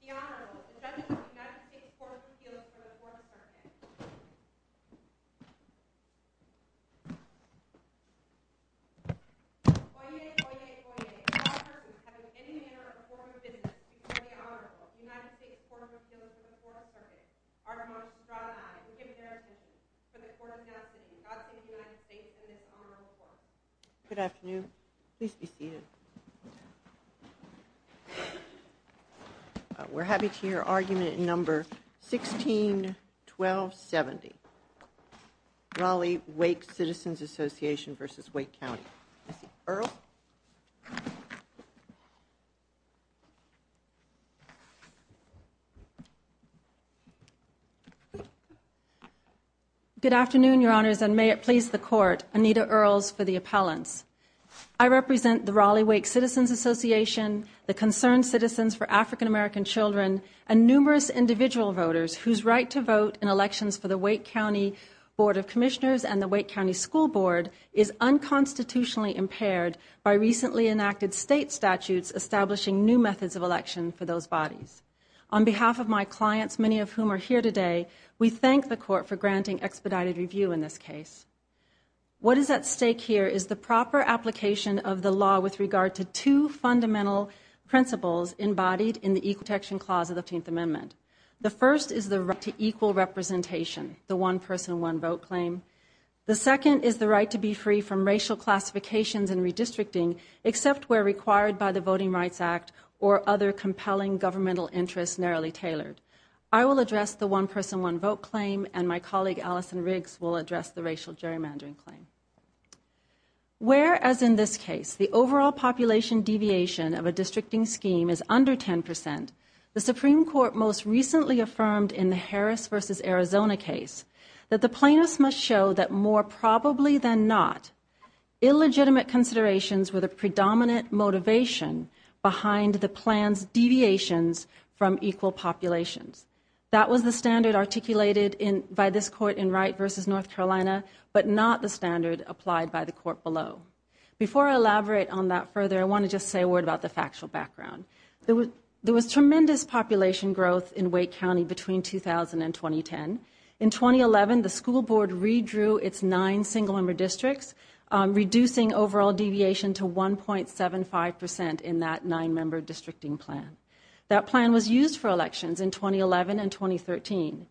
The Honorable, the Judge of the United States Court of Appeals for the 4th Circuit Oyez, Oyez, Oyez. All persons having any manner of form of business before the Honorable of the United States Court of Appeals for the 4th Circuit are admonished to draw the aye and give their attention to the court of custody of the United States in this honorable court. Good afternoon. Please be seated. We're happy to hear argument number 161270, Raleigh Wake Citizens Association v. Wake County. Ms. Earle? Good afternoon, Your Honors, and may it please the Court, Anita Earles for the appellants. I represent the Raleigh Wake Citizens Association, the Concerned Citizens for African American Children, and numerous individual voters whose right to vote in elections for the Wake County Board of Commissioners and the Wake County School Board is unconstitutionally impaired. By recently enacted state statutes establishing new methods of election for those bodies. On behalf of my clients, many of whom are here today, we thank the court for granting expedited review in this case. What is at stake here is the proper application of the law with regard to two fundamental principles embodied in the Equal Protection Clause of the 15th Amendment. The first is the right to equal representation, the one person, one vote claim. The second is the right to be free from racial classifications and redistricting except where required by the Voting Rights Act or other compelling governmental interests narrowly tailored. I will address the one person, one vote claim and my colleague Allison Riggs will address the racial gerrymandering claim. Where, as in this case, the overall population deviation of a districting scheme is under 10%, the Supreme Court most recently affirmed in the Harris v. Arizona case that the plaintiffs must show that more probably than not, illegitimate considerations were the predominant motivation behind the plan's deviations from equal populations. That was the standard articulated by this court in Wright v. North Carolina, but not the standard applied by the court below. Before I elaborate on that further, I want to just say a word about the factual background. There was tremendous population growth in Wake County between 2000 and 2010. In 2011, the school board redrew its nine single-member districts, reducing overall deviation to 1.75% in that nine-member districting plan. That plan was used for elections in 2011 and 2013.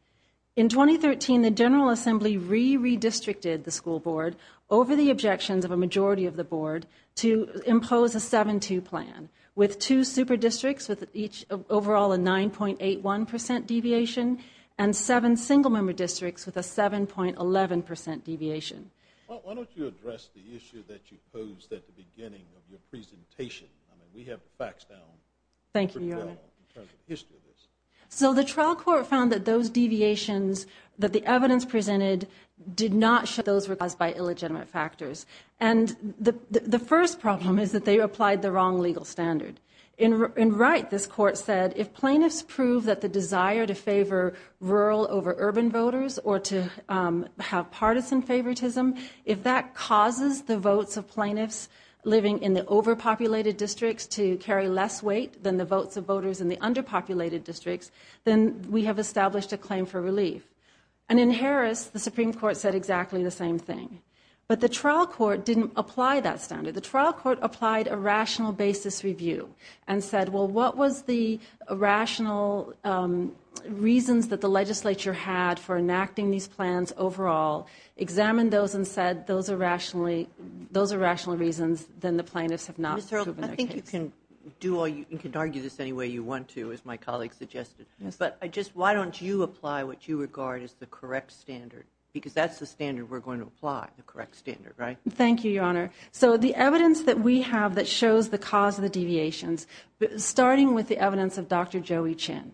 In 2013, the General Assembly re-redistricted the school board over the objections of a majority of the board to impose a 7-2 plan, with two super districts with each overall a 9.81% deviation and seven single-member districts with a 7.11% deviation. Why don't you address the issue that you posed at the beginning of your presentation? I mean, we have the facts down. Thank you, Your Honor. In terms of the history of this. So the trial court found that those deviations that the evidence presented did not show those were caused by illegitimate factors. And the first problem is that they applied the wrong legal standard. In Wright, this court said, if plaintiffs prove that the desire to favor rural over urban voters or to have partisan favoritism, if that causes the votes of plaintiffs living in the overpopulated districts to carry less weight than the votes of voters in the underpopulated districts, then we have established a claim for relief. And in Harris, the Supreme Court said exactly the same thing. But the trial court didn't apply that standard. The trial court applied a rational basis review and said, well, what was the rational reasons that the legislature had for enacting these plans overall, examined those and said those are rational reasons, then the plaintiffs have not proven their case. I think you can argue this any way you want to, as my colleague suggested. But why don't you apply what you regard as the correct standard? Because that's the standard we're going to apply, the correct standard, right? Thank you, Your Honor. So the evidence that we have that shows the cause of the deviations, starting with the evidence of Dr. Joey Chin,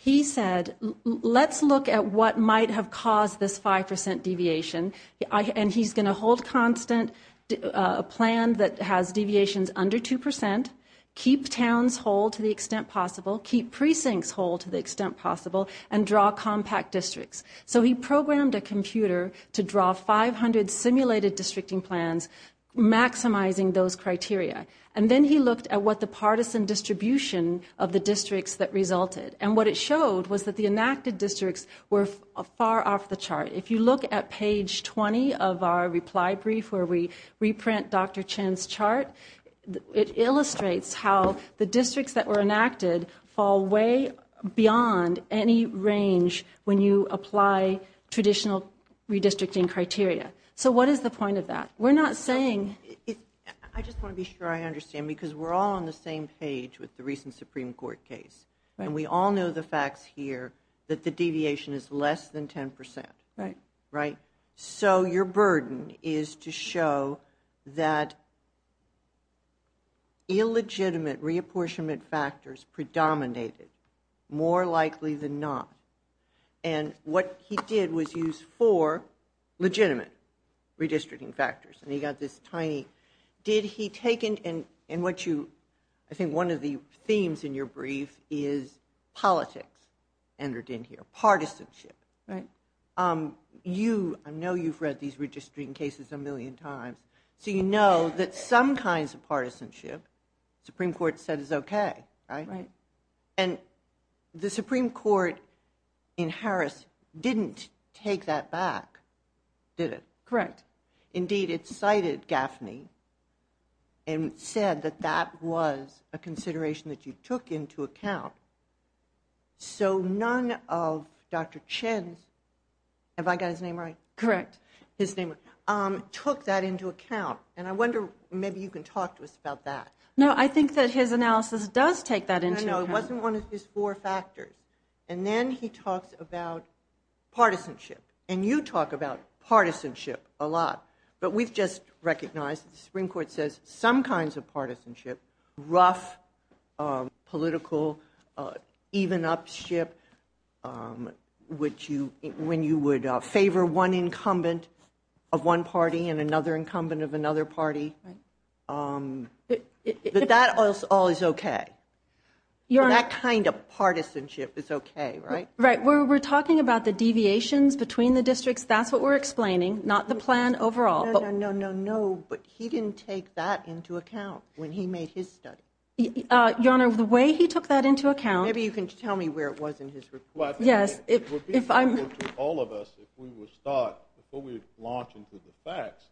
he said, let's look at what might have caused this 5% deviation. And he's going to hold constant a plan that has deviations under 2%, keep towns whole to the extent possible, keep precincts whole to the extent possible, and draw compact districts. So he programmed a computer to draw 500 simulated districting plans, maximizing those criteria. And then he looked at what the partisan distribution of the districts that resulted. And what it showed was that the enacted districts were far off the chart. If you look at page 20 of our reply brief where we reprint Dr. Chin's chart, it illustrates how the districts that were enacted fall way beyond any range when you apply traditional redistricting criteria. So what is the point of that? We're not saying... I just want to be sure I understand, because we're all on the same page with the recent Supreme Court case. And we all know the facts here that the deviation is less than 10%. Right. So your burden is to show that illegitimate reapportionment factors predominated more likely than not. And what he did was use four legitimate redistricting factors. And he got this tiny... I think one of the themes in your brief is politics entered in here, partisanship. You, I know you've read these redistricting cases a million times, so you know that some kinds of partisanship, Supreme Court said is okay, right? Right. And the Supreme Court in Harris didn't take that back, did it? Correct. Indeed, it cited Gaffney and said that that was a consideration that you took into account. So none of Dr. Chen's... Have I got his name right? Correct. His name... Took that into account. And I wonder, maybe you can talk to us about that. No, I think that his analysis does take that into account. No, it wasn't one of his four factors. And then he talks about partisanship. And you talk about partisanship a lot. But we've just recognized that the Supreme Court says some kinds of partisanship, rough, political, even up ship, when you would favor one incumbent of one party and another incumbent of another party. But that all is okay. That kind of partisanship is okay, right? Right. We're talking about the deviations between the districts. That's what we're explaining. Not the plan overall. No, no, no, no, no. But he didn't take that into account when he made his study. Your Honor, the way he took that into account... Maybe you can tell me where it was in his report. Yes, if I'm... It would be useful to all of us if we would start, before we launch into the facts,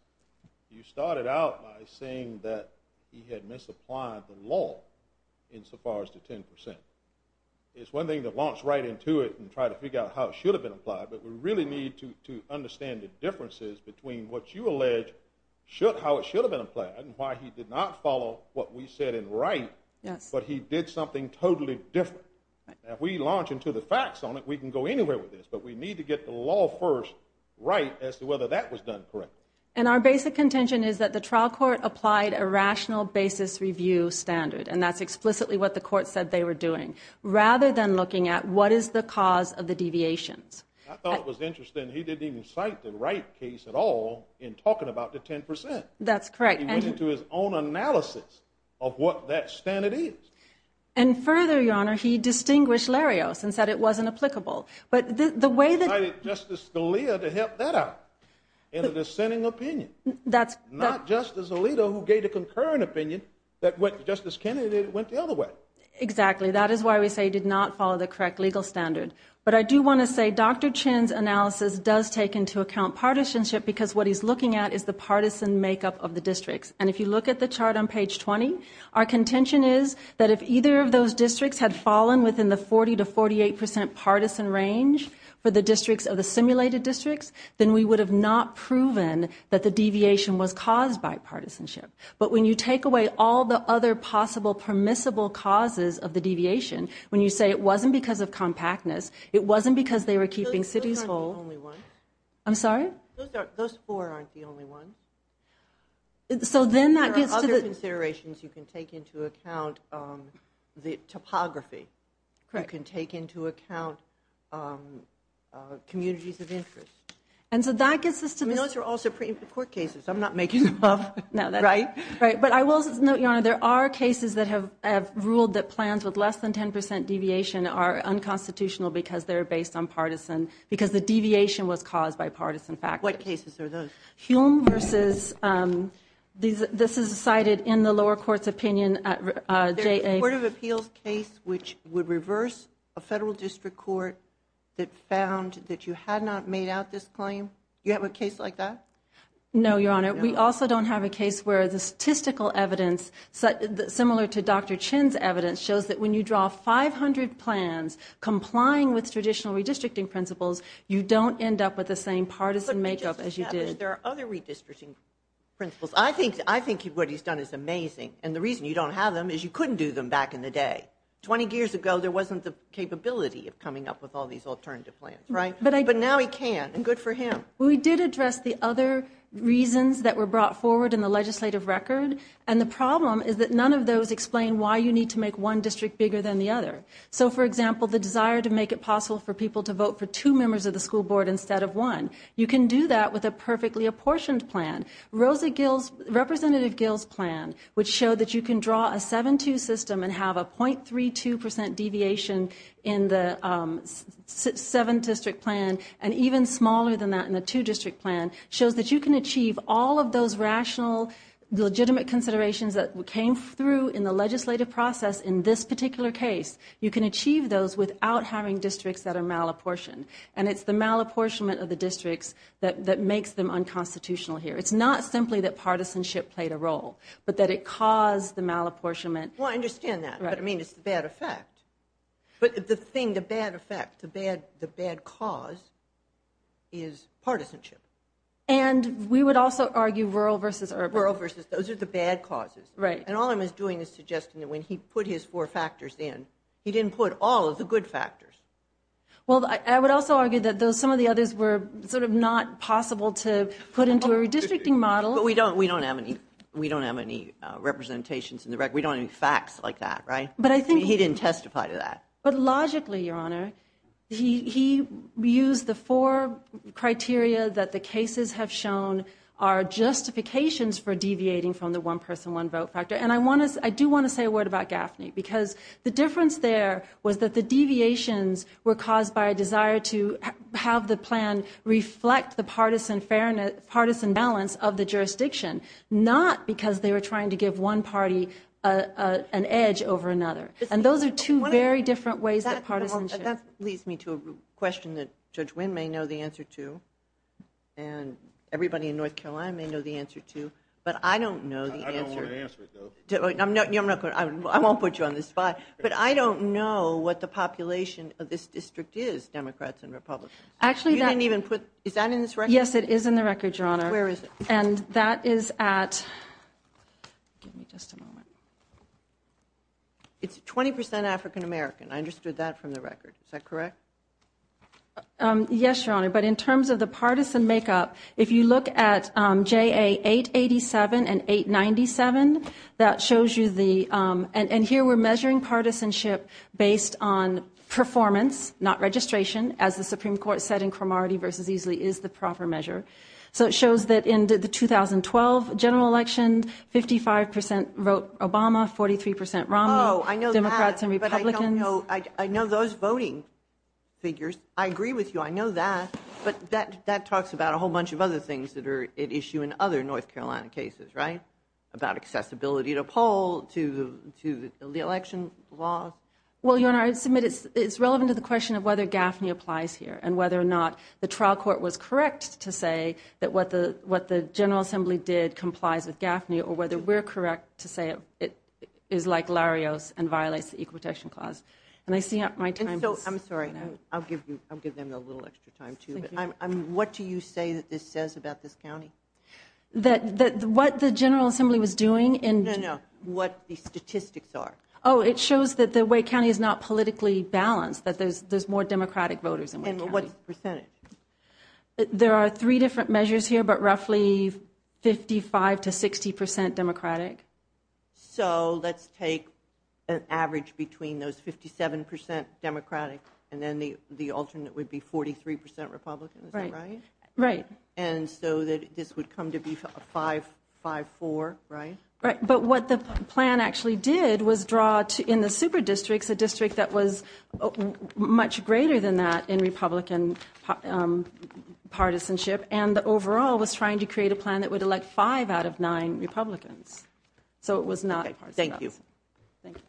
you started out by saying that he had misapplied the law insofar as the 10%. It's one thing to launch right into it and try to figure out how it should have been applied, but we really need to understand the differences between what you allege how it should have been applied and why he did not follow what we said in right, but he did something totally different. If we launch into the facts on it, we can go anywhere with this, but we need to get the law first right as to whether that was done correctly. And our basic contention is that the trial court applied a rational basis review standard, and that's explicitly what the court said they were doing, rather than looking at what is the cause of the deviations. I thought it was interesting. He didn't even cite the right case at all in talking about the 10%. That's correct. He went into his own analysis of what that standard is. And further, Your Honor, he distinguished Larios and said it wasn't applicable. But the way that... He cited Justice Scalia to help that out in a dissenting opinion. That's... Not Justice Alito who gave the concurrent opinion that Justice Kennedy went the other way. Exactly. That is why we say he did not follow the correct legal standard. But I do want to say Dr. Chin's analysis does take into account partisanship because what he's looking at is the partisan makeup of the districts. And if you look at the chart on page 20, our contention is that if either of those districts had fallen within the 40% to 48% partisan range for the districts of the simulated districts, then we would have not proven that the deviation was caused by partisanship. But when you take away all the other possible permissible causes of the deviation, when you say it wasn't because of compactness, it wasn't because they were keeping cities whole... Those aren't the only ones. I'm sorry? Those four aren't the only ones. So then that gets to the... There are other considerations you can take into account, the topography. Correct. You can take into account communities of interest. And so that gets us to the... I mean, those are all Supreme Court cases. I'm not making them up. Right? Right. But I will note, Your Honor, there are cases that have ruled that plans with less than 10% deviation are unconstitutional because they're based on partisan, because the deviation was caused by partisan factors. What cases are those? Hume versus... This is cited in the lower court's opinion. There's a Court of Appeals case which would reverse a federal district court that found that you had not made out this claim. You have a case like that? No, Your Honor. We also don't have a case where the statistical evidence, similar to Dr. Chin's evidence, shows that when you draw 500 plans complying with traditional redistricting principles, you don't end up with the same partisan makeup as you did. There are other redistricting principles. I think what he's done is amazing. And the reason you don't have them is you couldn't do them back in the day. Twenty years ago, there wasn't the capability of coming up with all these alternative plans, right? But now he can, and good for him. We did address the other reasons that were brought forward in the legislative record, and the problem is that none of those explain why you need to make one district bigger than the other. So, for example, the desire to make it possible for people to vote for two members of the school board instead of one. You can do that with a perfectly apportioned plan. Representative Gill's plan would show that you can draw a 7-2 system and have a 0.32% deviation in the 7-district plan, and even smaller than that in the 2-district plan, shows that you can achieve all of those rational, legitimate considerations that came through in the legislative process in this particular case. You can achieve those without having districts that are malapportioned. And it's the malapportionment of the districts that makes them unconstitutional here. It's not simply that partisanship played a role, but that it caused the malapportionment. Well, I understand that, but I mean, it's the bad effect. But the thing, the bad effect, the bad cause is partisanship. And we would also argue rural versus urban. Rural versus, those are the bad causes. And all I'm doing is suggesting that when he put his four factors in, he didn't put all of the good factors. Well, I would also argue that some of the others were sort of not possible to put into a redistricting model. But we don't have any representations in the record. We don't have any facts like that, right? I mean, he didn't testify to that. But logically, Your Honor, he used the four criteria that the cases have shown are justifications for deviating from the one person, one vote factor. And I do want to say a word about Gaffney, because the difference there was that the deviations were caused by a desire to have the plan reflect the partisan balance of the jurisdiction, not because they were trying to give one party an edge over another. And those are two very different ways of partisanship. That leads me to a question that Judge Wynn may know the answer to, and everybody in North Carolina may know the answer to. But I don't know the answer. I don't want to answer it, though. I won't put you on the spot. But I don't know what the population of this district is, Democrats and Republicans. You didn't even put, is that in this record? Yes, it is in the record, Your Honor. Where is it? And that is at, give me just a moment. It's 20% African American. I understood that from the record. Is that correct? Yes, Your Honor. But in terms of the partisan makeup, if you look at JA 887 and 897, that shows you the, and here we're measuring partisanship based on performance, not registration, as the Supreme Court said in Cromartie v. Easley is the proper measure. So it shows that in the 2012 general election, 55% wrote Obama, 43% Romney, Democrats and Republicans. Oh, I know that. But I don't know, I know those voting figures. I agree with you. I know that. But that talks about a whole bunch of other things that are at issue in other North Carolina cases, right, about accessibility to a poll, to the election laws. Well, Your Honor, I submit it's relevant to the question of whether GAFNI applies here and whether or not the trial court was correct to say that what the General Assembly did complies with GAFNI or whether we're correct to say it is like Larios and violates the Equal Protection Clause. And I see my time is running out. I'm sorry. I'll give them a little extra time, too. What do you say that this says about this county? That what the General Assembly was doing in... No, no. What the statistics are. Oh, it shows that the Wake County is not politically balanced, that there's more Democratic voters in Wake County. And what's the percentage? There are three different measures here, but roughly 55% to 60% Democratic. So let's take an average between those 57% Democratic and then the alternate would be 43% Republican, is that right? Right. And so this would come to be 5-4, right? Right. But what the plan actually did was draw in the super districts a district that was much greater than that in Republican partisanship and overall was trying to create a plan that would elect five out of nine Republicans. So it was not... Thank you. Thank you.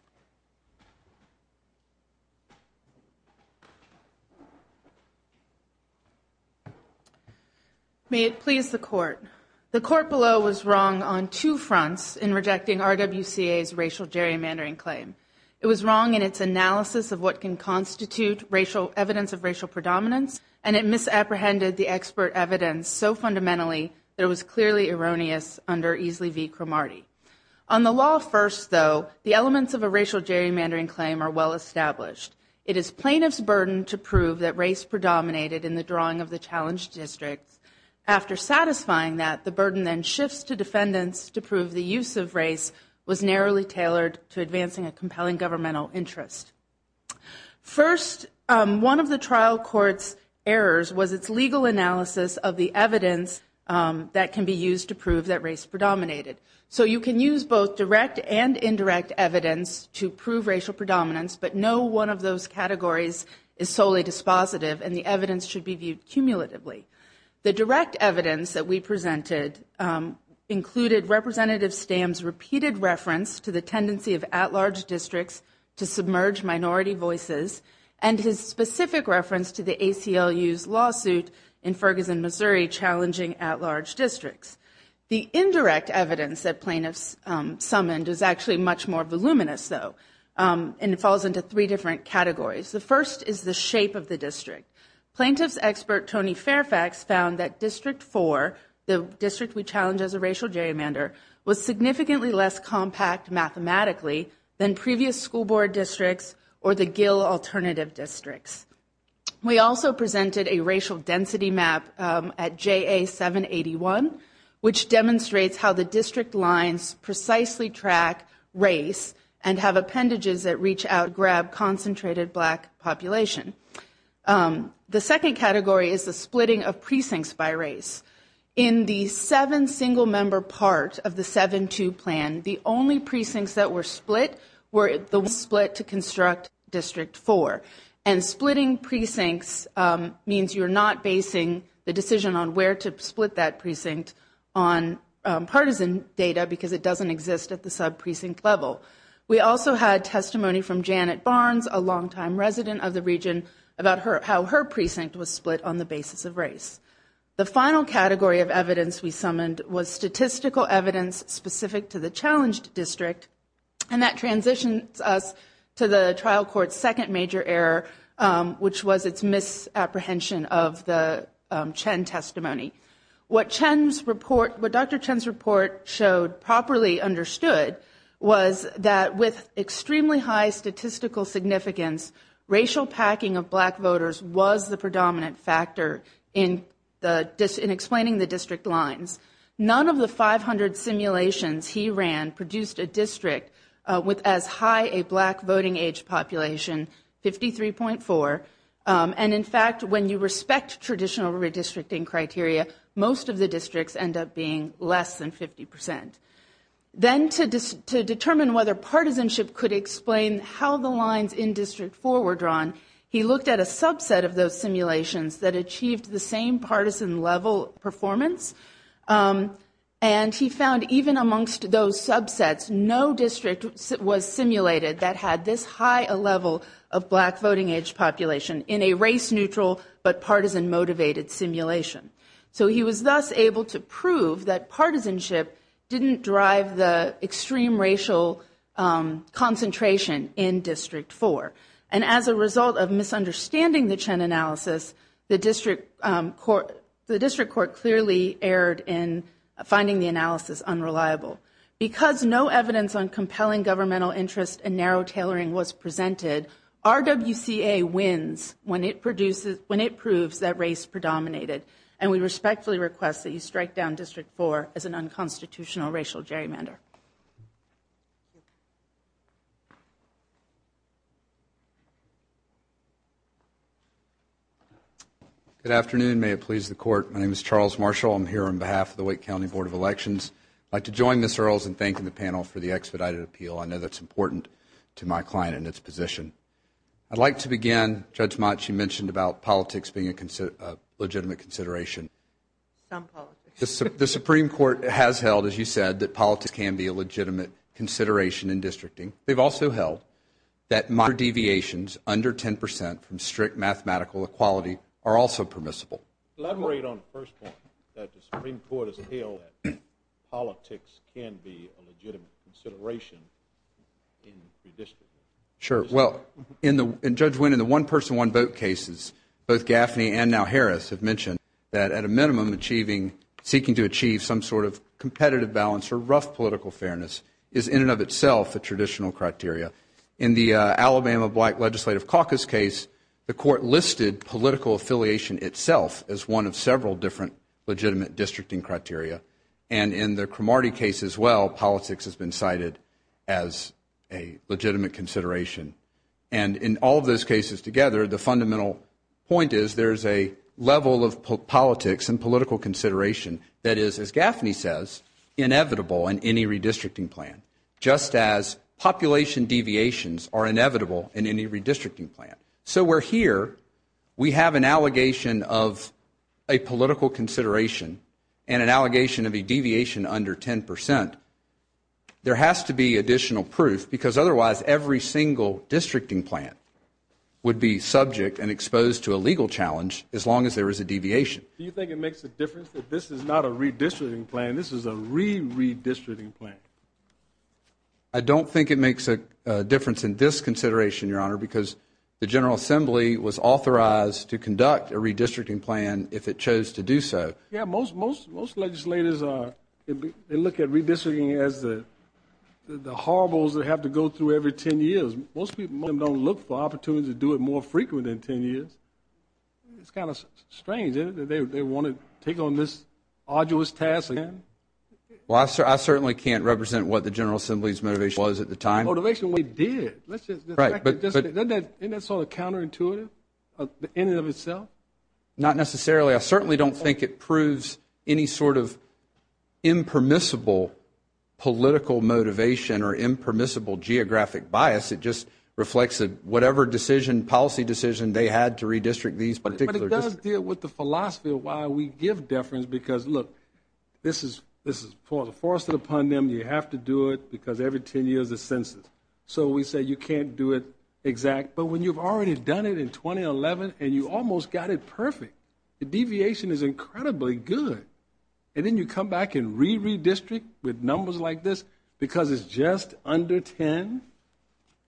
May it please the court. The court below was wrong on two fronts in rejecting RWCA's racial gerrymandering claim. It was wrong in its analysis of what can constitute evidence of racial predominance, and it misapprehended the expert evidence so fundamentally that it was clearly erroneous under Easley v. Cromartie. On the law first, though, the elements of a racial gerrymandering claim are well established. It is plaintiff's burden to prove that race predominated in the drawing of the challenged district. After satisfying that, the burden then shifts to defendants to prove the use of race was narrowly tailored to advancing a compelling governmental interest. First, one of the trial court's errors was its legal analysis of the evidence that can be used to prove that race predominated. So you can use both direct and indirect evidence to prove racial predominance, but no one of those categories is solely dispositive, and the evidence should be viewed cumulatively. The direct evidence that we presented included Representative Stam's repeated reference to the tendency of at-large districts to submerge minority voices and his specific reference to the ACLU's lawsuit in Ferguson, Missouri, challenging at-large districts. The indirect evidence that plaintiffs summoned is actually much more voluminous, though, and it falls into three different categories. The first is the shape of the district. Plaintiff's expert, Tony Fairfax, found that District 4, the district we challenged as a racial gerrymander, was significantly less compact mathematically than previous school board districts or the Gill alternative districts. We also presented a racial density map at JA781, which demonstrates how the district lines precisely track race and have appendages that reach out to grab concentrated black population. The second category is the splitting of precincts by race. In the seven-single-member part of the 7-2 plan, the only precincts that were split were the ones split to construct District 4, and splitting precincts means you're not basing the decision on where to split that precinct on partisan data because it doesn't exist at the sub-precinct level. We also had testimony from Janet Barnes, a longtime resident of the region, about how her precinct was split on the basis of race. The final category of evidence we summoned was statistical evidence specific to the challenged district, and that transitions us to the trial court's second major error, which was its misapprehension of the Chen testimony. What Dr. Chen's report showed, properly understood, was that with extremely high statistical significance, racial packing of black voters was the predominant factor in explaining the district lines. None of the 500 simulations he ran produced a district with as high a black voting age population, 53.4, and in fact, when you respect traditional redistricting criteria, most of the districts end up being less than 50%. Then, to determine whether partisanship could explain how the lines in District 4 were drawn, he looked at a subset of those simulations that achieved the same partisan-level performance, and he found even amongst those subsets, no district was simulated that had this high a level of black voting age population in a race-neutral but partisan-motivated simulation. So he was thus able to prove that partisanship didn't drive the extreme racial concentration in District 4, and as a result of misunderstanding the Chen analysis, the district court clearly erred in finding the analysis unreliable. Because no evidence on compelling governmental interest and narrow tailoring was presented, RWCA wins when it proves that race predominated, and we respectfully request that you strike down District 4 as an unconstitutional racial gerrymander. Good afternoon, may it please the court. My name is Charles Marshall. I'm here on behalf of the Wake County Board of Elections. I'd like to join Ms. Earls in thanking the panel for the expedited appeal. I know that's important to my client and its position. I'd like to begin, Judge Mott, you mentioned about politics being a legitimate consideration. Some politics. The Supreme Court has held, as you said, that politics can be a legitimate consideration in districting. They've also held that minor deviations under 10 percent from strict mathematical equality are also permissible. Let me read on the first point that the Supreme Court has held that politics can be a legitimate consideration in redistricting. Sure. Well, Judge Wynne, in the one-person, one-vote cases, both Gaffney and now Harris have mentioned that, at a minimum, seeking to achieve some sort of competitive balance or rough political fairness is, in and of itself, a traditional criteria. In the Alabama Black Legislative Caucus case, the court listed political affiliation itself as one of several different legitimate districting criteria. And in the Cromartie case as well, politics has been cited as a legitimate consideration. And in all of those cases together, the fundamental point is there is a level of politics and political consideration that is, as Gaffney says, inevitable in any redistricting plan, just as population deviations are inevitable in any redistricting plan. So where here we have an allegation of a political consideration and an allegation of a deviation under 10 percent, there has to be additional proof because otherwise every single districting plan would be subject and exposed to a legal challenge as long as there is a deviation. Do you think it makes a difference that this is not a redistricting plan, this is a re-redistricting plan? I don't think it makes a difference in this consideration, Your Honor, because the General Assembly was authorized to conduct a redistricting plan if it chose to do so. Yeah, most legislators look at redistricting as the horribles that have to go through every 10 years. Most people don't look for opportunities to do it more frequently than 10 years. It's kind of strange, isn't it, that they want to take on this arduous task again? Well, I certainly can't represent what the General Assembly's motivation was at the time. Motivation we did. Right. Isn't that sort of counterintuitive in and of itself? Not necessarily. I certainly don't think it proves any sort of impermissible political motivation or impermissible geographic bias. It just reflects that whatever decision, policy decision they had to redistrict these particular districts. We have to deal with the philosophy of why we give deference because, look, this is forced upon them. You have to do it because every 10 years is census. So we say you can't do it exact. But when you've already done it in 2011 and you almost got it perfect, the deviation is incredibly good. And then you come back and re-redistrict with numbers like this because it's just under 10?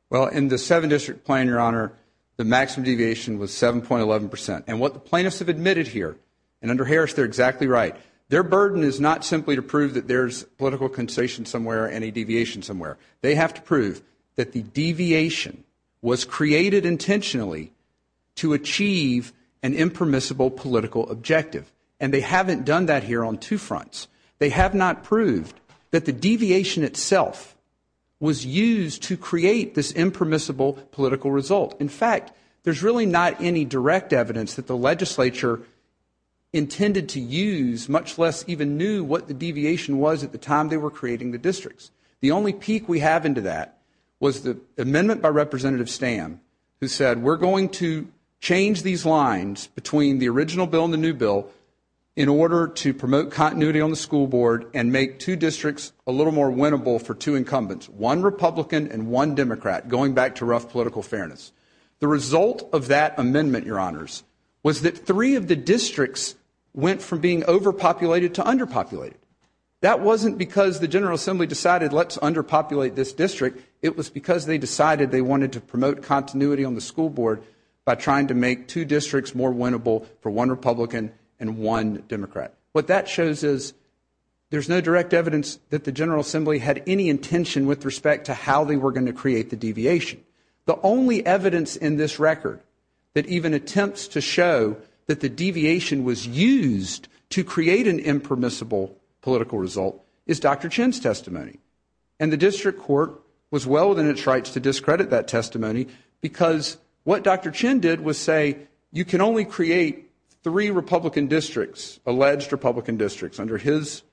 Well, in the seven-district plan, Your Honor, the maximum deviation was 7.11 percent. And what the plaintiffs have admitted here, and under Harris they're exactly right, their burden is not simply to prove that there's political concession somewhere and a deviation somewhere. They have to prove that the deviation was created intentionally to achieve an impermissible political objective. And they haven't done that here on two fronts. They have not proved that the deviation itself was used to create this impermissible political result. In fact, there's really not any direct evidence that the legislature intended to use, much less even knew what the deviation was at the time they were creating the districts. The only peak we have into that was the amendment by Representative Stam who said we're going to change these lines between the original bill and the new bill in order to promote continuity on the school board and make two districts a little more winnable for two incumbents, one Republican and one Democrat, going back to rough political fairness. The result of that amendment, Your Honors, was that three of the districts went from being overpopulated to underpopulated. That wasn't because the General Assembly decided let's underpopulate this district. It was because they decided they wanted to promote continuity on the school board by trying to make two districts more winnable for one Republican and one Democrat. What that shows is there's no direct evidence that the General Assembly had any intention with respect to how they were going to create the deviation. The only evidence in this record that even attempts to show that the deviation was used to create an impermissible political result is Dr. Chin's testimony, and the district court was well within its rights to discredit that testimony because what Dr. Chin did was say you can only create three Republican districts, alleged Republican districts, under his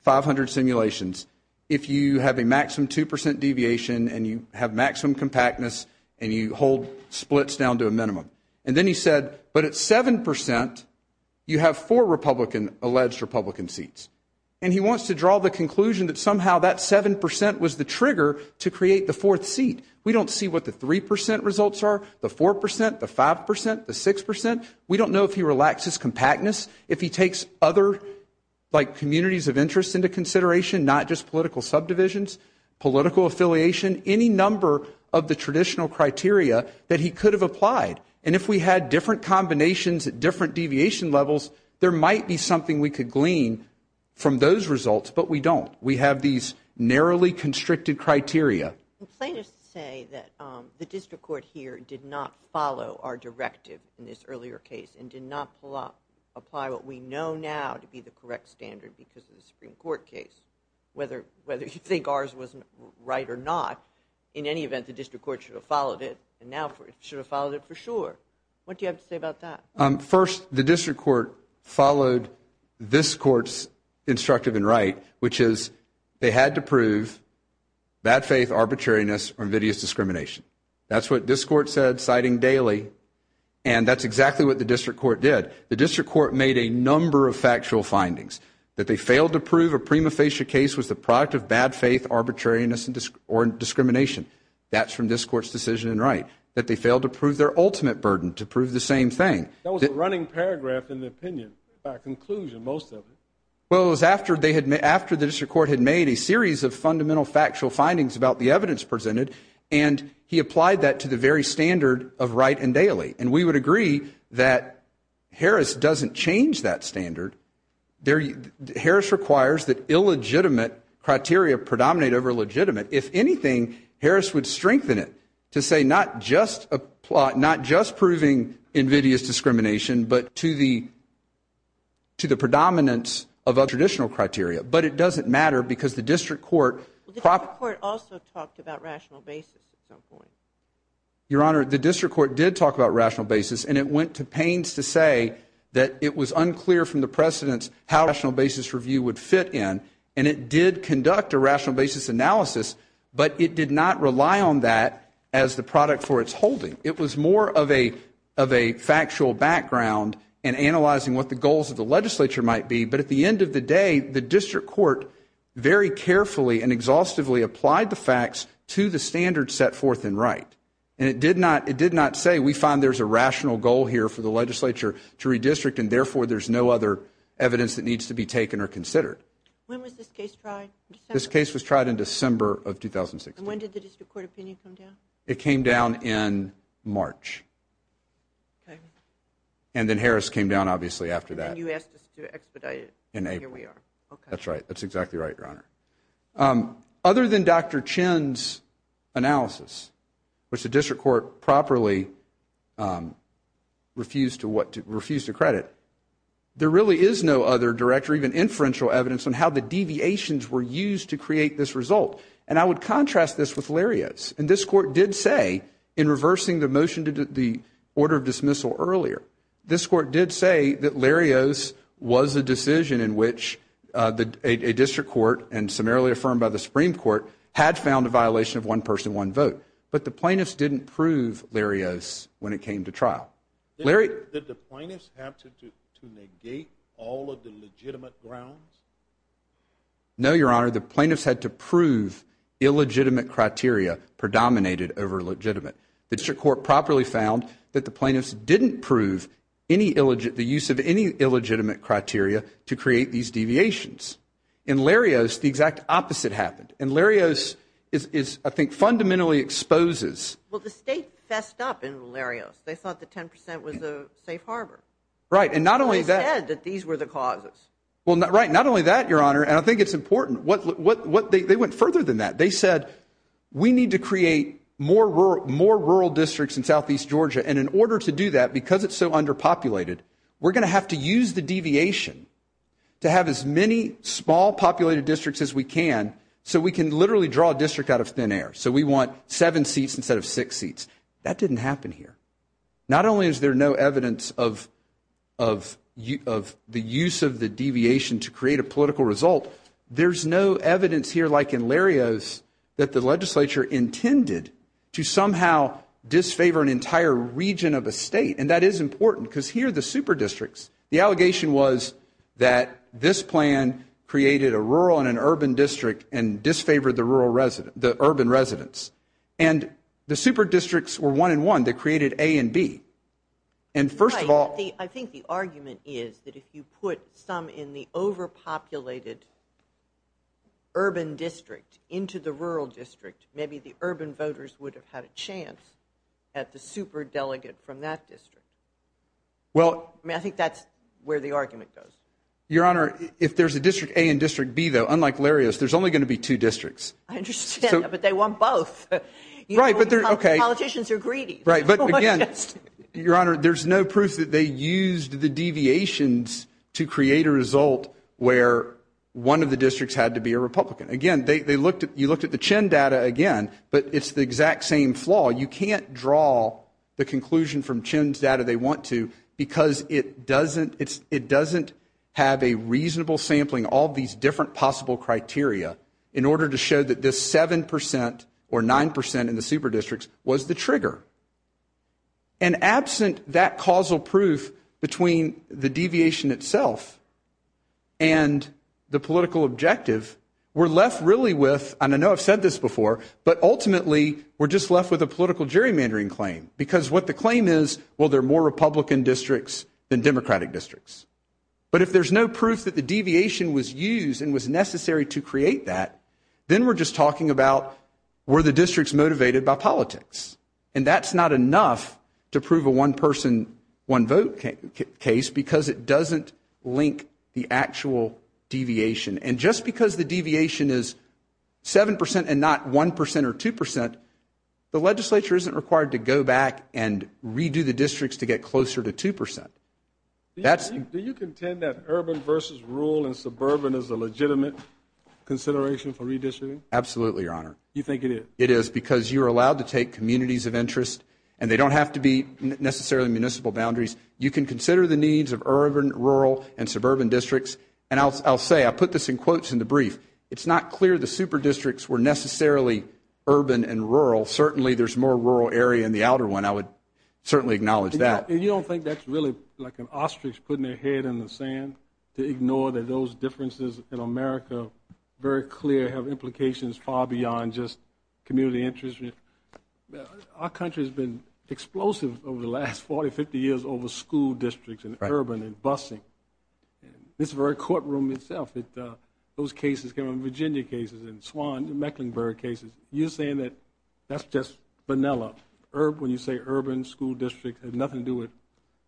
500 simulations, if you have a maximum 2% deviation and you have maximum compactness and you hold splits down to a minimum. And then he said, but at 7% you have four Republican, alleged Republican seats. And he wants to draw the conclusion that somehow that 7% was the trigger to create the fourth seat. We don't see what the 3% results are, the 4%, the 5%, the 6%. We don't know if he relaxes compactness, if he takes other communities of interest into consideration, not just political subdivisions, political affiliation, any number of the traditional criteria that he could have applied. And if we had different combinations at different deviation levels, there might be something we could glean from those results, but we don't. We have these narrowly constricted criteria. I would complain to say that the district court here did not follow our directive in this earlier case and did not apply what we know now to be the correct standard because of the Supreme Court case. Whether you think ours was right or not, in any event, the district court should have followed it and now should have followed it for sure. What do you have to say about that? First, the district court followed this court's instructive and right, which is they had to prove bad faith, arbitrariness, or invidious discrimination. That's what this court said, citing Daley, and that's exactly what the district court did. The district court made a number of factual findings. That they failed to prove a prima facie case was the product of bad faith, arbitrariness, or discrimination. That's from this court's decision and right. That they failed to prove their ultimate burden to prove the same thing. That was a running paragraph in the opinion, by conclusion, most of it. Well, it was after the district court had made a series of fundamental factual findings about the evidence presented and he applied that to the very standard of right and Daley. And we would agree that Harris doesn't change that standard. Harris requires that illegitimate criteria predominate over legitimate. If anything, Harris would strengthen it to say not just proving invidious discrimination, but to the predominance of a traditional criteria. But it doesn't matter because the district court. The district court also talked about rational basis at some point. Your Honor, the district court did talk about rational basis, and it went to pains to say that it was unclear from the precedents how rational basis review would fit in. And it did conduct a rational basis analysis, but it did not rely on that as the product for its holding. It was more of a factual background and analyzing what the goals of the legislature might be. But at the end of the day, the district court very carefully and exhaustively applied the facts to the standard set forth in right. And it did not say we find there's a rational goal here for the legislature to redistrict, and therefore there's no other evidence that needs to be taken or considered. When was this case tried? This case was tried in December of 2016. And when did the district court opinion come down? It came down in March. And then Harris came down, obviously, after that. And then you asked us to expedite it. And here we are. That's right. That's exactly right, Your Honor. Other than Dr. Chin's analysis, which the district court properly refused to credit, there really is no other direct or even inferential evidence on how the deviations were used to create this result. And I would contrast this with Lariat's. And this court did say in reversing the motion to the order of dismissal earlier, this court did say that Lariat's was a decision in which a district court and summarily affirmed by the Supreme Court had found a violation of one person, one vote. But the plaintiffs didn't prove Lariat's when it came to trial. Did the plaintiffs have to negate all of the legitimate grounds? No, Your Honor. The plaintiffs had to prove illegitimate criteria predominated over legitimate. The district court properly found that the plaintiffs didn't prove the use of any illegitimate criteria to create these deviations. In Lariat's, the exact opposite happened. And Lariat's, I think, fundamentally exposes. Well, the state fessed up in Lariat's. They thought the 10 percent was a safe harbor. Right. And not only that. They said that these were the causes. Right. Not only that, Your Honor. And I think it's important. They went further than that. They said we need to create more rural districts in southeast Georgia. And in order to do that, because it's so underpopulated, we're going to have to use the deviation to have as many small populated districts as we can so we can literally draw a district out of thin air. So we want seven seats instead of six seats. That didn't happen here. Not only is there no evidence of the use of the deviation to create a political result, there's no evidence here like in Lariat's that the legislature intended to somehow disfavor an entire region of a state. And that is important because here the super districts, the allegation was that this plan created a rural and an urban district and disfavored the urban residents. And the super districts were one and one. They created A and B. And first of all. Right. I think the argument is that if you put some in the overpopulated urban district into the rural district, maybe the urban voters would have had a chance at the super delegate from that district. Well. I mean, I think that's where the argument goes. Your Honor, if there's a district A and district B, though, unlike Lariat's, there's only going to be two districts. I understand. But they want both. Right. But they're OK. Politicians are greedy. Right. But, again, Your Honor, there's no proof that they used the deviations to create a result where one of the districts had to be a Republican. Again, they looked at you looked at the Chin data again, but it's the exact same flaw. You can't draw the conclusion from Chin's data they want to because it doesn't it's it doesn't have a reasonable sampling, all these different possible criteria in order to show that this 7 percent or 9 percent in the super districts was the trigger. And absent that causal proof between the deviation itself and the political objective, we're left really with, and I know I've said this before, but ultimately we're just left with a political gerrymandering claim because what the claim is, well, there are more Republican districts than Democratic districts. But if there's no proof that the deviation was used and was necessary to create that, then we're just talking about where the districts motivated by politics. And that's not enough to prove a one person one vote case because it doesn't link the actual deviation. And just because the deviation is 7 percent and not 1 percent or 2 percent, the legislature isn't required to go back and redo the districts to get closer to 2 percent. That's do you contend that urban versus rural and suburban is a legitimate consideration for redistricting? Absolutely, Your Honor. You think it is? It is because you are allowed to take communities of interest and they don't have to be necessarily municipal boundaries. You can consider the needs of urban, rural and suburban districts. And I'll say I put this in quotes in the brief. It's not clear the super districts were necessarily urban and rural. Certainly there's more rural area in the outer one. I would certainly acknowledge that. You don't think that's really like an ostrich putting their head in the sand to ignore that those differences in America, very clear, have implications far beyond just community interest? Our country has been explosive over the last 40, 50 years over school districts and urban and busing. This very courtroom itself, those cases, Virginia cases and Swan and Mecklenburg cases, you're saying that that's just vanilla. When you say urban school district, it has nothing to do with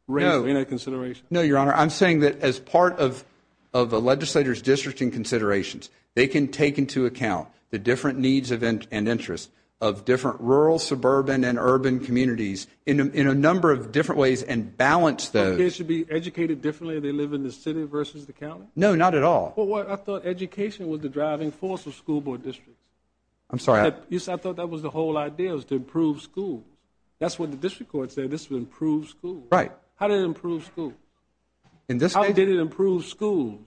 race or any consideration? No, Your Honor. I'm saying that as part of a legislator's districting considerations, they can take into account the different needs and interests of different rural, suburban and urban communities in a number of different ways and balance those. But kids should be educated differently if they live in the city versus the county? No, not at all. Well, I thought education was the driving force of school board districts. I'm sorry? Yes, I thought that was the whole idea, was to improve schools. That's what the district court said, this would improve schools. Right. How did it improve schools? In this case? How did it improve schools?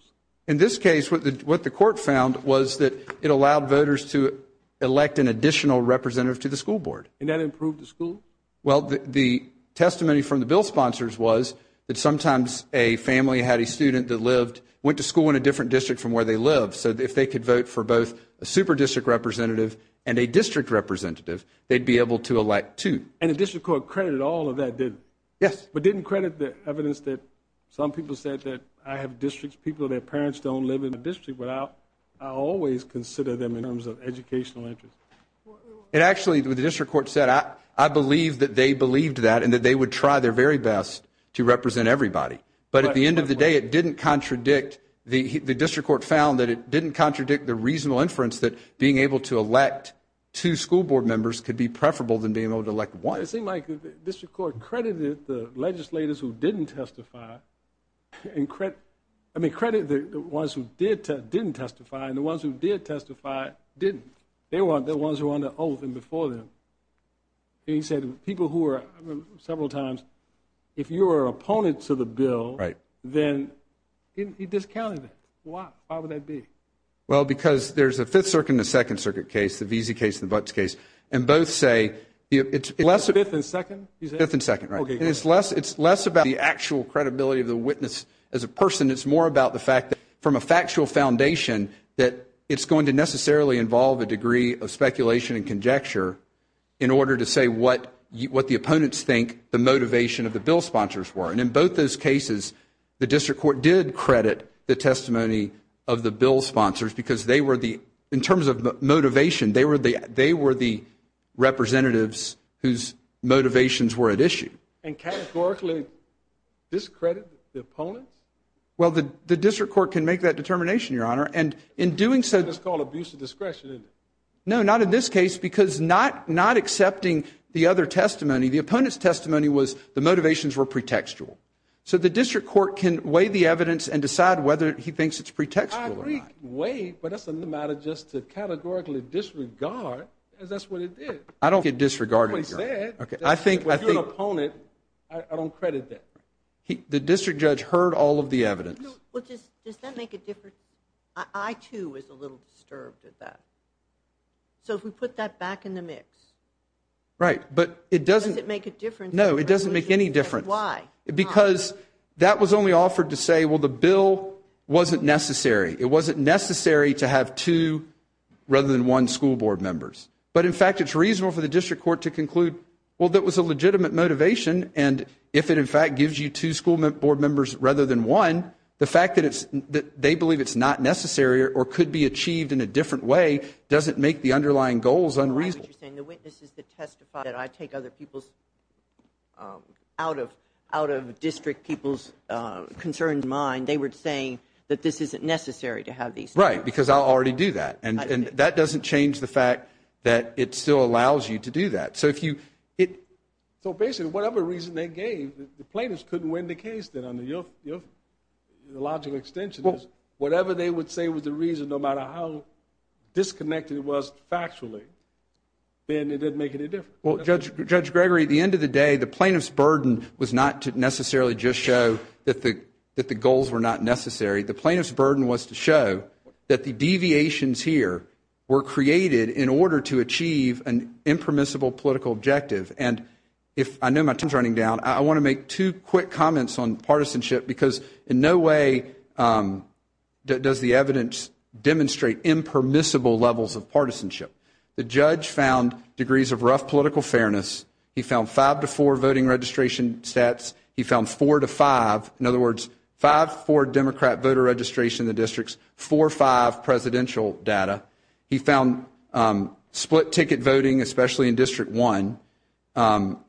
In this case, what the court found was that it allowed voters to elect an additional representative to the school board. And that improved the school? Well, the testimony from the bill sponsors was that sometimes a family had a student that lived, went to school in a different district from where they lived, so if they could vote for both a super district representative and a district representative, they'd be able to elect two. And the district court credited all of that, didn't it? Yes. But didn't credit the evidence that some people said that I have districts, people, their parents don't live in the district, but I always consider them in terms of educational interest. It actually, what the district court said, I believe that they believed that and that they would try their very best to represent everybody. But at the end of the day, it didn't contradict, the district court found that it didn't contradict the reasonable inference that being able to elect two school board members could be preferable than being able to elect one. It seemed like the district court credited the legislators who didn't testify, I mean credited the ones who did testify and the ones who did testify didn't. They were the ones who were on the oath and before them. And he said people who are, several times, if you are an opponent to the bill, then he discounted it. Why would that be? Well, because there's a Fifth Circuit and a Second Circuit case, the Veazey case and the Butts case, and both say it's less. Fifth and Second? Fifth and Second, right. Okay. And it's less about the actual credibility of the witness as a person. It's more about the fact that from a factual foundation that it's going to necessarily involve a degree of speculation and conjecture in order to say what the opponents think the motivation of the bill sponsors were. And in both those cases, the district court did credit the testimony of the bill sponsors because they were the, in terms of motivation, they were the representatives whose motivations were at issue. And categorically discredit the opponents? Well, the district court can make that determination, Your Honor. And in doing so, That's called abuse of discretion, isn't it? No, not in this case because not accepting the other testimony, the opponent's testimony was the motivations were pretextual. So the district court can weigh the evidence and decide whether he thinks it's pretextual or not. I agree, weigh, but that's a matter just to categorically disregard as that's what it did. I don't get disregarded, Your Honor. If you're an opponent, I don't credit that. The district judge heard all of the evidence. Does that make a difference? I, too, was a little disturbed at that. So if we put that back in the mix, does it make a difference? No, it doesn't make any difference. Why? Because that was only offered to say, well, the bill wasn't necessary. It wasn't necessary to have two rather than one school board members. But, in fact, it's reasonable for the district court to conclude, well, that was a legitimate motivation, and if it, in fact, gives you two school board members rather than one, the fact that they believe it's not necessary or could be achieved in a different way doesn't make the underlying goals unreasonable. The witnesses that testified that I take other people's, out of district people's concerns in mind, they were saying that this isn't necessary to have these two. Right, because I'll already do that. And that doesn't change the fact that it still allows you to do that. So, basically, whatever reason they gave, the plaintiffs couldn't win the case then. The logical extension is whatever they would say was the reason, no matter how disconnected it was factually, then it didn't make any difference. Well, Judge Gregory, at the end of the day, the plaintiff's burden was not to necessarily just show that the goals were not necessary. The plaintiff's burden was to show that the deviations here were created in order to achieve an impermissible political objective. And if I know my time is running down, I want to make two quick comments on partisanship because in no way does the evidence demonstrate impermissible levels of partisanship. The judge found degrees of rough political fairness. He found five to four voting registration stats. He found four to five, in other words, five for Democrat voter registration in the districts, four or five presidential data. He found split ticket voting, especially in District 1,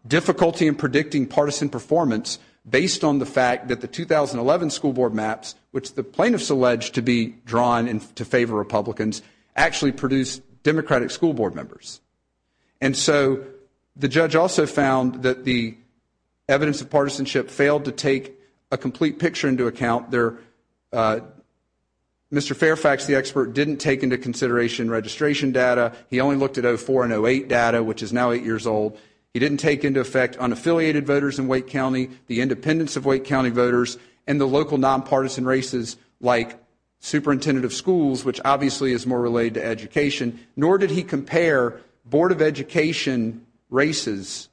difficulty in predicting partisan performance based on the fact that the 2011 school board maps, which the plaintiffs alleged to be drawn to favor Republicans, actually produced Democratic school board members. And so the judge also found that the evidence of partisanship failed to take a complete picture into account. Mr. Fairfax, the expert, didn't take into consideration registration data. He only looked at 04 and 08 data, which is now eight years old. He didn't take into effect unaffiliated voters in Wake County, the independence of Wake County voters, and the local nonpartisan races like superintendent of schools, which obviously is more related to education, nor did he compare board of education races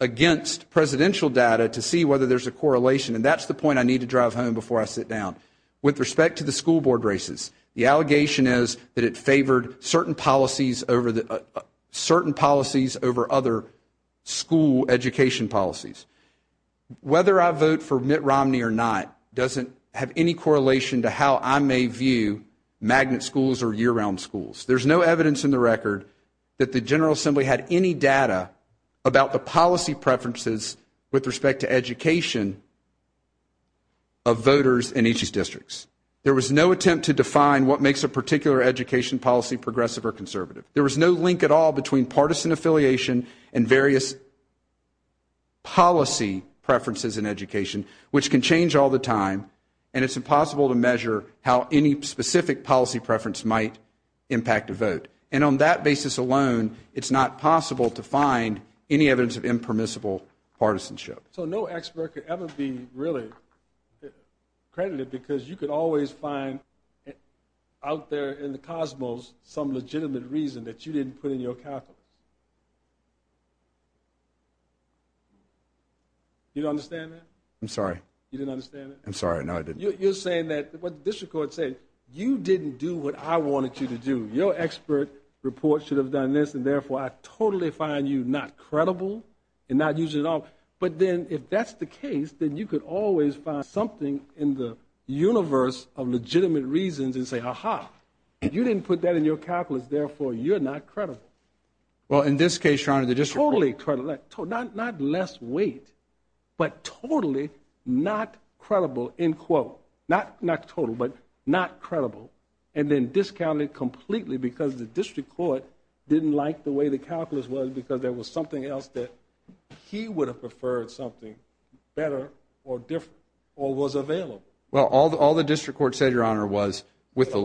against presidential data to see whether there's a correlation. And that's the point I need to drive home before I sit down. With respect to the school board races, the allegation is that it favored certain policies over other school education policies. Whether I vote for Mitt Romney or not doesn't have any correlation to how I may view magnet schools or year round schools. There's no evidence in the record that the General Assembly had any data about the policy preferences with respect to education of voters in each of these districts. There was no attempt to define what makes a particular education policy progressive or conservative. There was no link at all between partisan affiliation and various policy preferences in education, which can change all the time, and it's impossible to measure how any specific policy preference might impact a vote. And on that basis alone, it's not possible to find any evidence of impermissible partisanship. So no expert could ever be really credited because you could always find out there in the cosmos some legitimate reason that you didn't put in your calculus. You don't understand that? I'm sorry. You didn't understand that? I'm sorry. No, I didn't. You're saying that what the district court said, you didn't do what I wanted you to do. Your expert report should have done this and, therefore, I totally find you not credible and not use it at all. But then if that's the case, then you could always find something in the universe of legitimate reasons and say, aha, you didn't put that in your calculus, therefore, you're not credible. Well, in this case, Your Honor, the district court. Totally credible. Not less weight, but totally not credible, in quote. Not total, but not credible. And then discounted completely because the district court didn't like the way the calculus was because there was something else that he would have preferred something better or different or was available. Well, all the district court said, Your Honor, was with the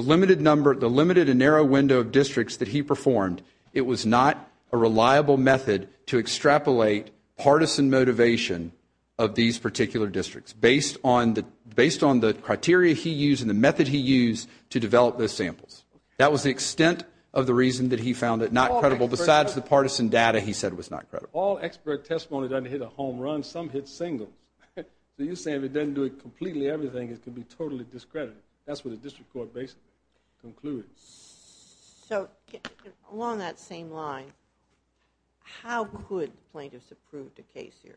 limited number, the limited and narrow window of districts that he performed, it was not a reliable method to extrapolate partisan motivation of these particular districts based on the criteria he used and the method he used to develop those samples. That was the extent of the reason that he found it not credible besides the partisan data he said was not credible. All expert testimony doesn't hit a home run. Some hit singles. So you're saying if it doesn't do completely everything, it can be totally discredited. That's what the district court basically concluded. So along that same line, how could plaintiffs approve the case here?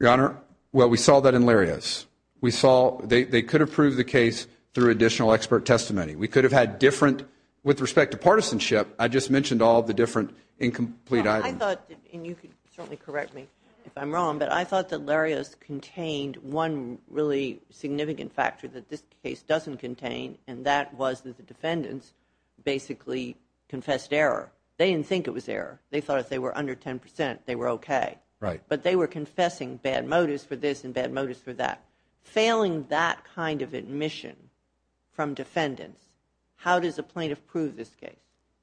Your Honor, well, we saw that in Larias. We saw they could approve the case through additional expert testimony. We could have had different with respect to partisanship. I just mentioned all of the different incomplete items. I thought, and you can certainly correct me if I'm wrong, but I thought that Larias contained one really significant factor that this case doesn't contain, and that was that the defendants basically confessed error. They didn't think it was error. They thought if they were under 10 percent, they were okay. But they were confessing bad motives for this and bad motives for that. Failing that kind of admission from defendants, how does a plaintiff prove this case?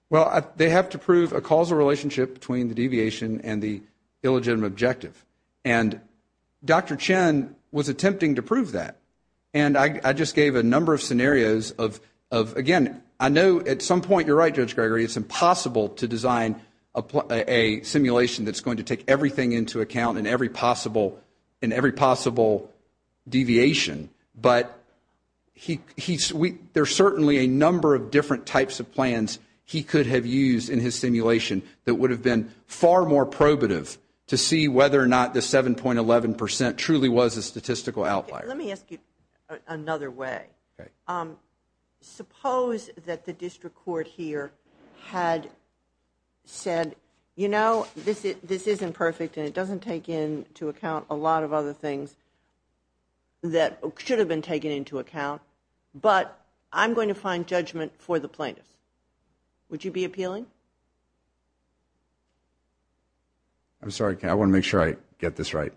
Well, they have to prove a causal relationship between the deviation and the illegitimate objective. And Dr. Chen was attempting to prove that. And I just gave a number of scenarios of, again, I know at some point, you're right, Judge Gregory, it's impossible to design a simulation that's going to take everything into account in every possible deviation. But there's certainly a number of different types of plans he could have used in his simulation that would have been far more probative to see whether or not the 7.11 percent truly was a statistical outlier. Let me ask you another way. Suppose that the district court here had said, you know, this isn't perfect and it doesn't take into account a lot of other things that should have been taken into account. But I'm going to find judgment for the plaintiffs. Would you be appealing? I'm sorry. I want to make sure I get this right.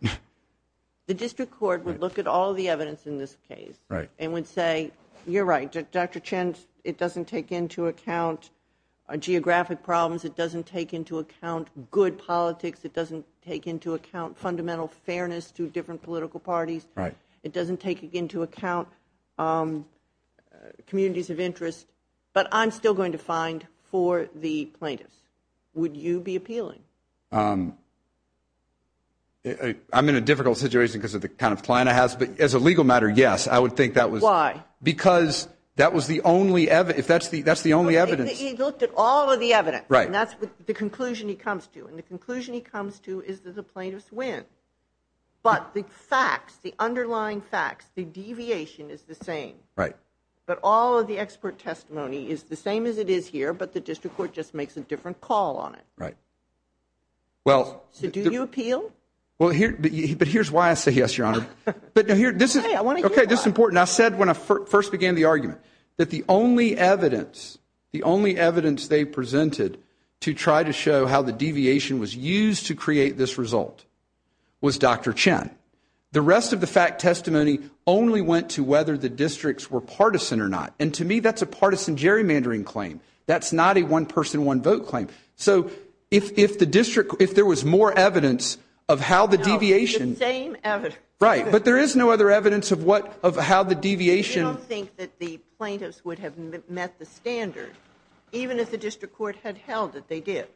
The district court would look at all the evidence in this case. Right. And would say, you're right, Dr. Chen, it doesn't take into account geographic problems. It doesn't take into account good politics. It doesn't take into account fundamental fairness to different political parties. Right. It doesn't take into account communities of interest. But I'm still going to find for the plaintiffs. Would you be appealing? I'm in a difficult situation because of the kind of client I have. But as a legal matter, yes, I would think that was. Why? Because that was the only evidence. That's the only evidence. He looked at all of the evidence. Right. And that's the conclusion he comes to. And the conclusion he comes to is that the plaintiffs win. But the facts, the underlying facts, the deviation is the same. Right. But all of the expert testimony is the same as it is here, but the district court just makes a different call on it. Right. So do you appeal? But here's why I say yes, Your Honor. Okay, I want to hear that. This is important. And I said when I first began the argument that the only evidence, the only evidence they presented to try to show how the deviation was used to create this result was Dr. Chen. The rest of the fact testimony only went to whether the districts were partisan or not. And to me, that's a partisan gerrymandering claim. That's not a one-person, one-vote claim. So if the district, if there was more evidence of how the deviation. No, the same evidence. Right. But there is no other evidence of how the deviation. I don't think that the plaintiffs would have met the standard, even if the district court had held that they did.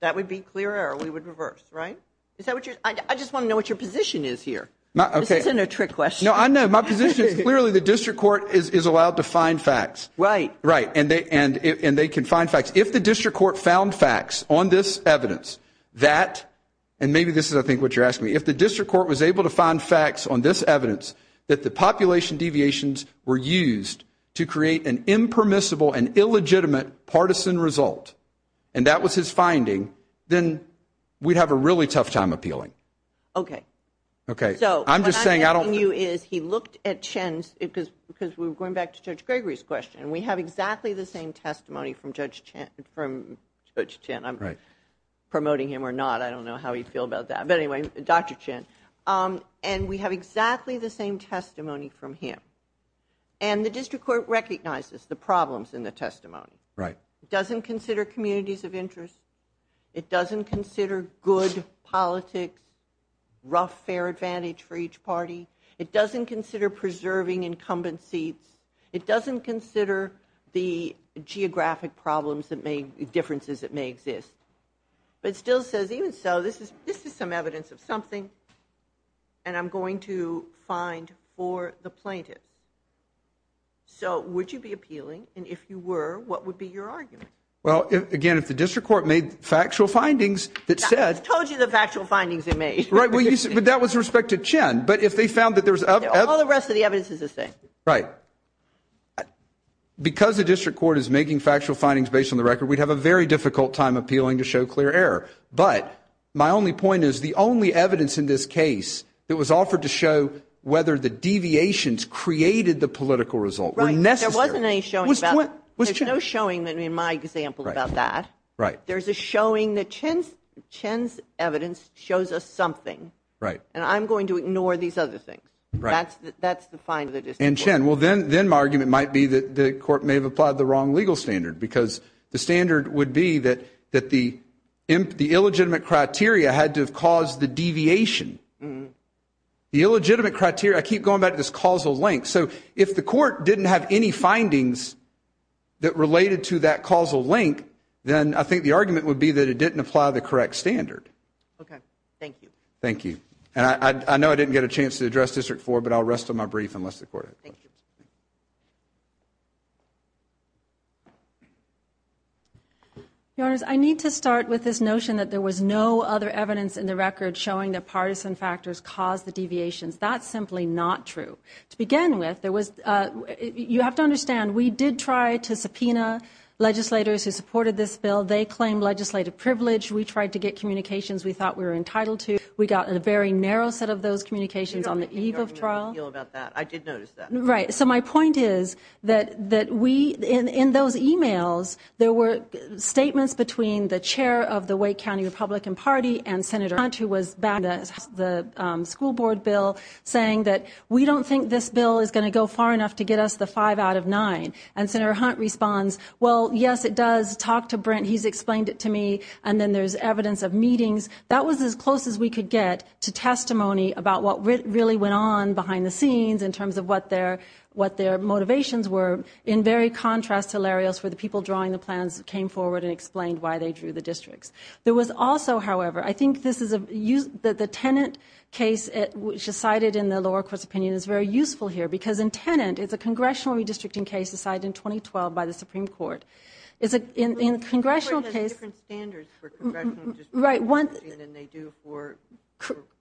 That would be clear error. We would reverse, right? I just want to know what your position is here. This isn't a trick question. No, I know. My position is clearly the district court is allowed to find facts. Right. Right. And they can find facts. If the district court found facts on this evidence that, and maybe this is, I think, what you're asking me. If the district court was able to find facts on this evidence that the population deviations were used to create an impermissible and illegitimate partisan result, and that was his finding, then we'd have a really tough time appealing. Okay. Okay. So what I'm asking you is he looked at Chen's, because we were going back to Judge Gregory's question, and we have exactly the same testimony from Judge Chen. I'm promoting him or not. I don't know how he'd feel about that. But anyway, Dr. Chen. And we have exactly the same testimony from him. And the district court recognizes the problems in the testimony. Right. It doesn't consider communities of interest. It doesn't consider good politics, rough fair advantage for each party. It doesn't consider preserving incumbent seats. It doesn't consider the geographic problems that may, differences that may exist. But it still says, even so, this is some evidence of something. And I'm going to find for the plaintiff. So would you be appealing? And if you were, what would be your argument? Well, again, if the district court made factual findings that said. I told you the factual findings they made. Right. But that was respect to Chen. But if they found that there was. All the rest of the evidence is the same. Right. Because the district court is making factual findings based on the record, we'd have a very difficult time appealing to show clear error. But my only point is the only evidence in this case that was offered to show whether the deviations created the political result were necessary. Right. There wasn't any showing. There's no showing in my example about that. Right. There's a showing that Chen's evidence shows us something. Right. And I'm going to ignore these other things. Right. That's the fine of the district court. And, Chen, well, then my argument might be that the court may have applied the wrong legal standard because the standard would be that the illegitimate criteria had to have caused the deviation. The illegitimate criteria, I keep going back to this causal link. So if the court didn't have any findings that related to that causal link, then I think the argument would be that it didn't apply the correct standard. Okay. Thank you. Thank you. And I know I didn't get a chance to address District 4, but I'll rest on my brief unless the court has questions. Thank you. Your Honors, I need to start with this notion that there was no other evidence in the record showing that partisan factors caused the deviations. That's simply not true. To begin with, you have to understand, we did try to subpoena legislators who supported this bill. They claimed legislative privilege. We tried to get communications we thought we were entitled to. We got a very narrow set of those communications on the eve of trial. I did notice that. Right. So my point is that we, in those e-mails, there were statements between the chair of the Wake County Republican Party and Senator Hunt, who was backing the school board bill, saying that we don't think this bill is going to go far enough to get us the five out of nine. And Senator Hunt responds, well, yes, it does. Talk to Brent. He's explained it to me. And then there's evidence of meetings. That was as close as we could get to testimony about what really went on behind the scenes in terms of what their motivations were, in very contrast to Larry Ellsworth, the people drawing the plans came forward and explained why they drew the districts. There was also, however, I think this is a use, the Tenet case, which is cited in the lower court's opinion, is very useful here because in Tenet, it's a congressional redistricting case decided in 2012 by the Supreme Court. But the Supreme Court has different standards for congressional redistricting than they do for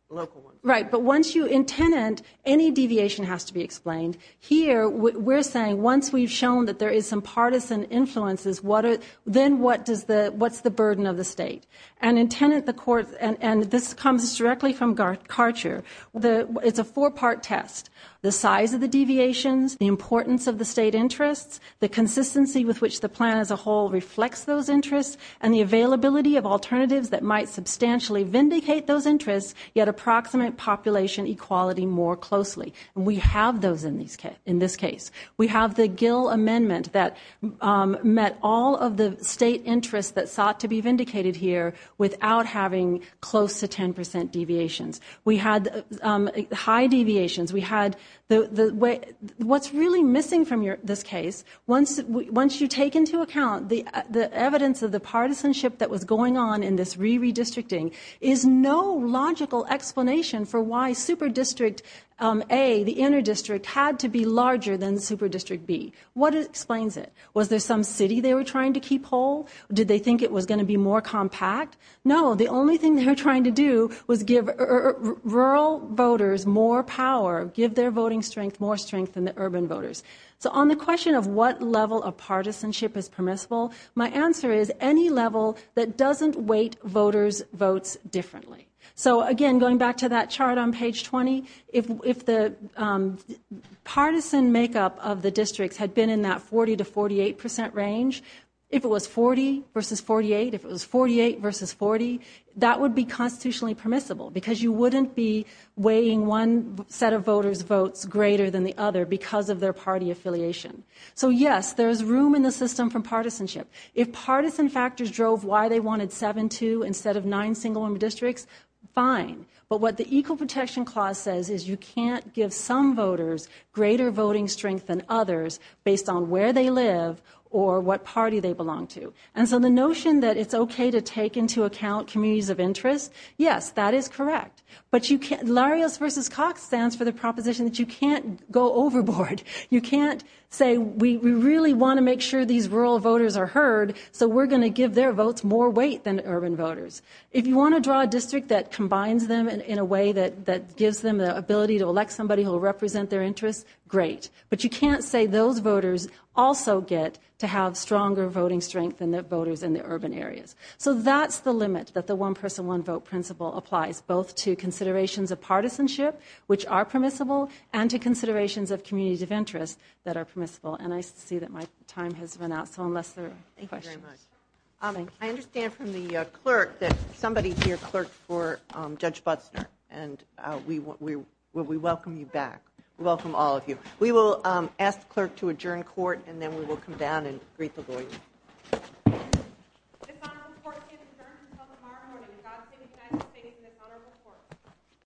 local ones. Right. But once you, in Tenet, any deviation has to be explained. Here, we're saying once we've shown that there is some partisan influences, then what's the burden of the state? And in Tenet, the court, and this comes directly from Karcher, it's a four-part test, the size of the deviations, the importance of the state interests, the consistency with which the plan as a whole reflects those interests, and the availability of alternatives that might substantially vindicate those interests, yet approximate population equality more closely. And we have those in this case. We have the Gill Amendment that met all of the state interests that sought to be vindicated here without having close to 10% deviations. We had high deviations. What's really missing from this case, once you take into account the evidence of the partisanship that was going on in this re-redistricting, is no logical explanation for why Super District A, the inner district, had to be larger than Super District B. What explains it? Was there some city they were trying to keep whole? Did they think it was going to be more compact? No. The only thing they were trying to do was give rural voters more power, give their voting strength more strength than the urban voters. So on the question of what level of partisanship is permissible, my answer is any level that doesn't weight voters' votes differently. So, again, going back to that chart on page 20, if the partisan makeup of the districts had been in that 40% to 48% range, if it was 40 versus 48, if it was 48 versus 40, that would be constitutionally permissible because you wouldn't be weighing one set of voters' votes greater than the other because of their party affiliation. So, yes, there is room in the system for partisanship. If partisan factors drove why they wanted seven to instead of nine single-room districts, fine. But what the Equal Protection Clause says is you can't give some voters greater voting strength than others based on where they live or what party they belong to. And so the notion that it's okay to take into account communities of interest, yes, that is correct. But Larios v. Cox stands for the proposition that you can't go overboard. You can't say we really want to make sure these rural voters are heard, so we're going to give their votes more weight than urban voters. If you want to draw a district that combines them in a way that gives them the ability to elect somebody who will represent their interests, great. But you can't say those voters also get to have stronger voting strength than the voters in the urban areas. So that's the limit that the one-person, one-vote principle applies, both to considerations of partisanship, which are permissible, and to considerations of communities of interest that are permissible. And I see that my time has run out, so unless there are questions. Thank you very much. I understand from the clerk that somebody here clerked for Judge Butzner, and we welcome you back. We welcome all of you. We will ask the clerk to adjourn court, and then we will come down and greet the board.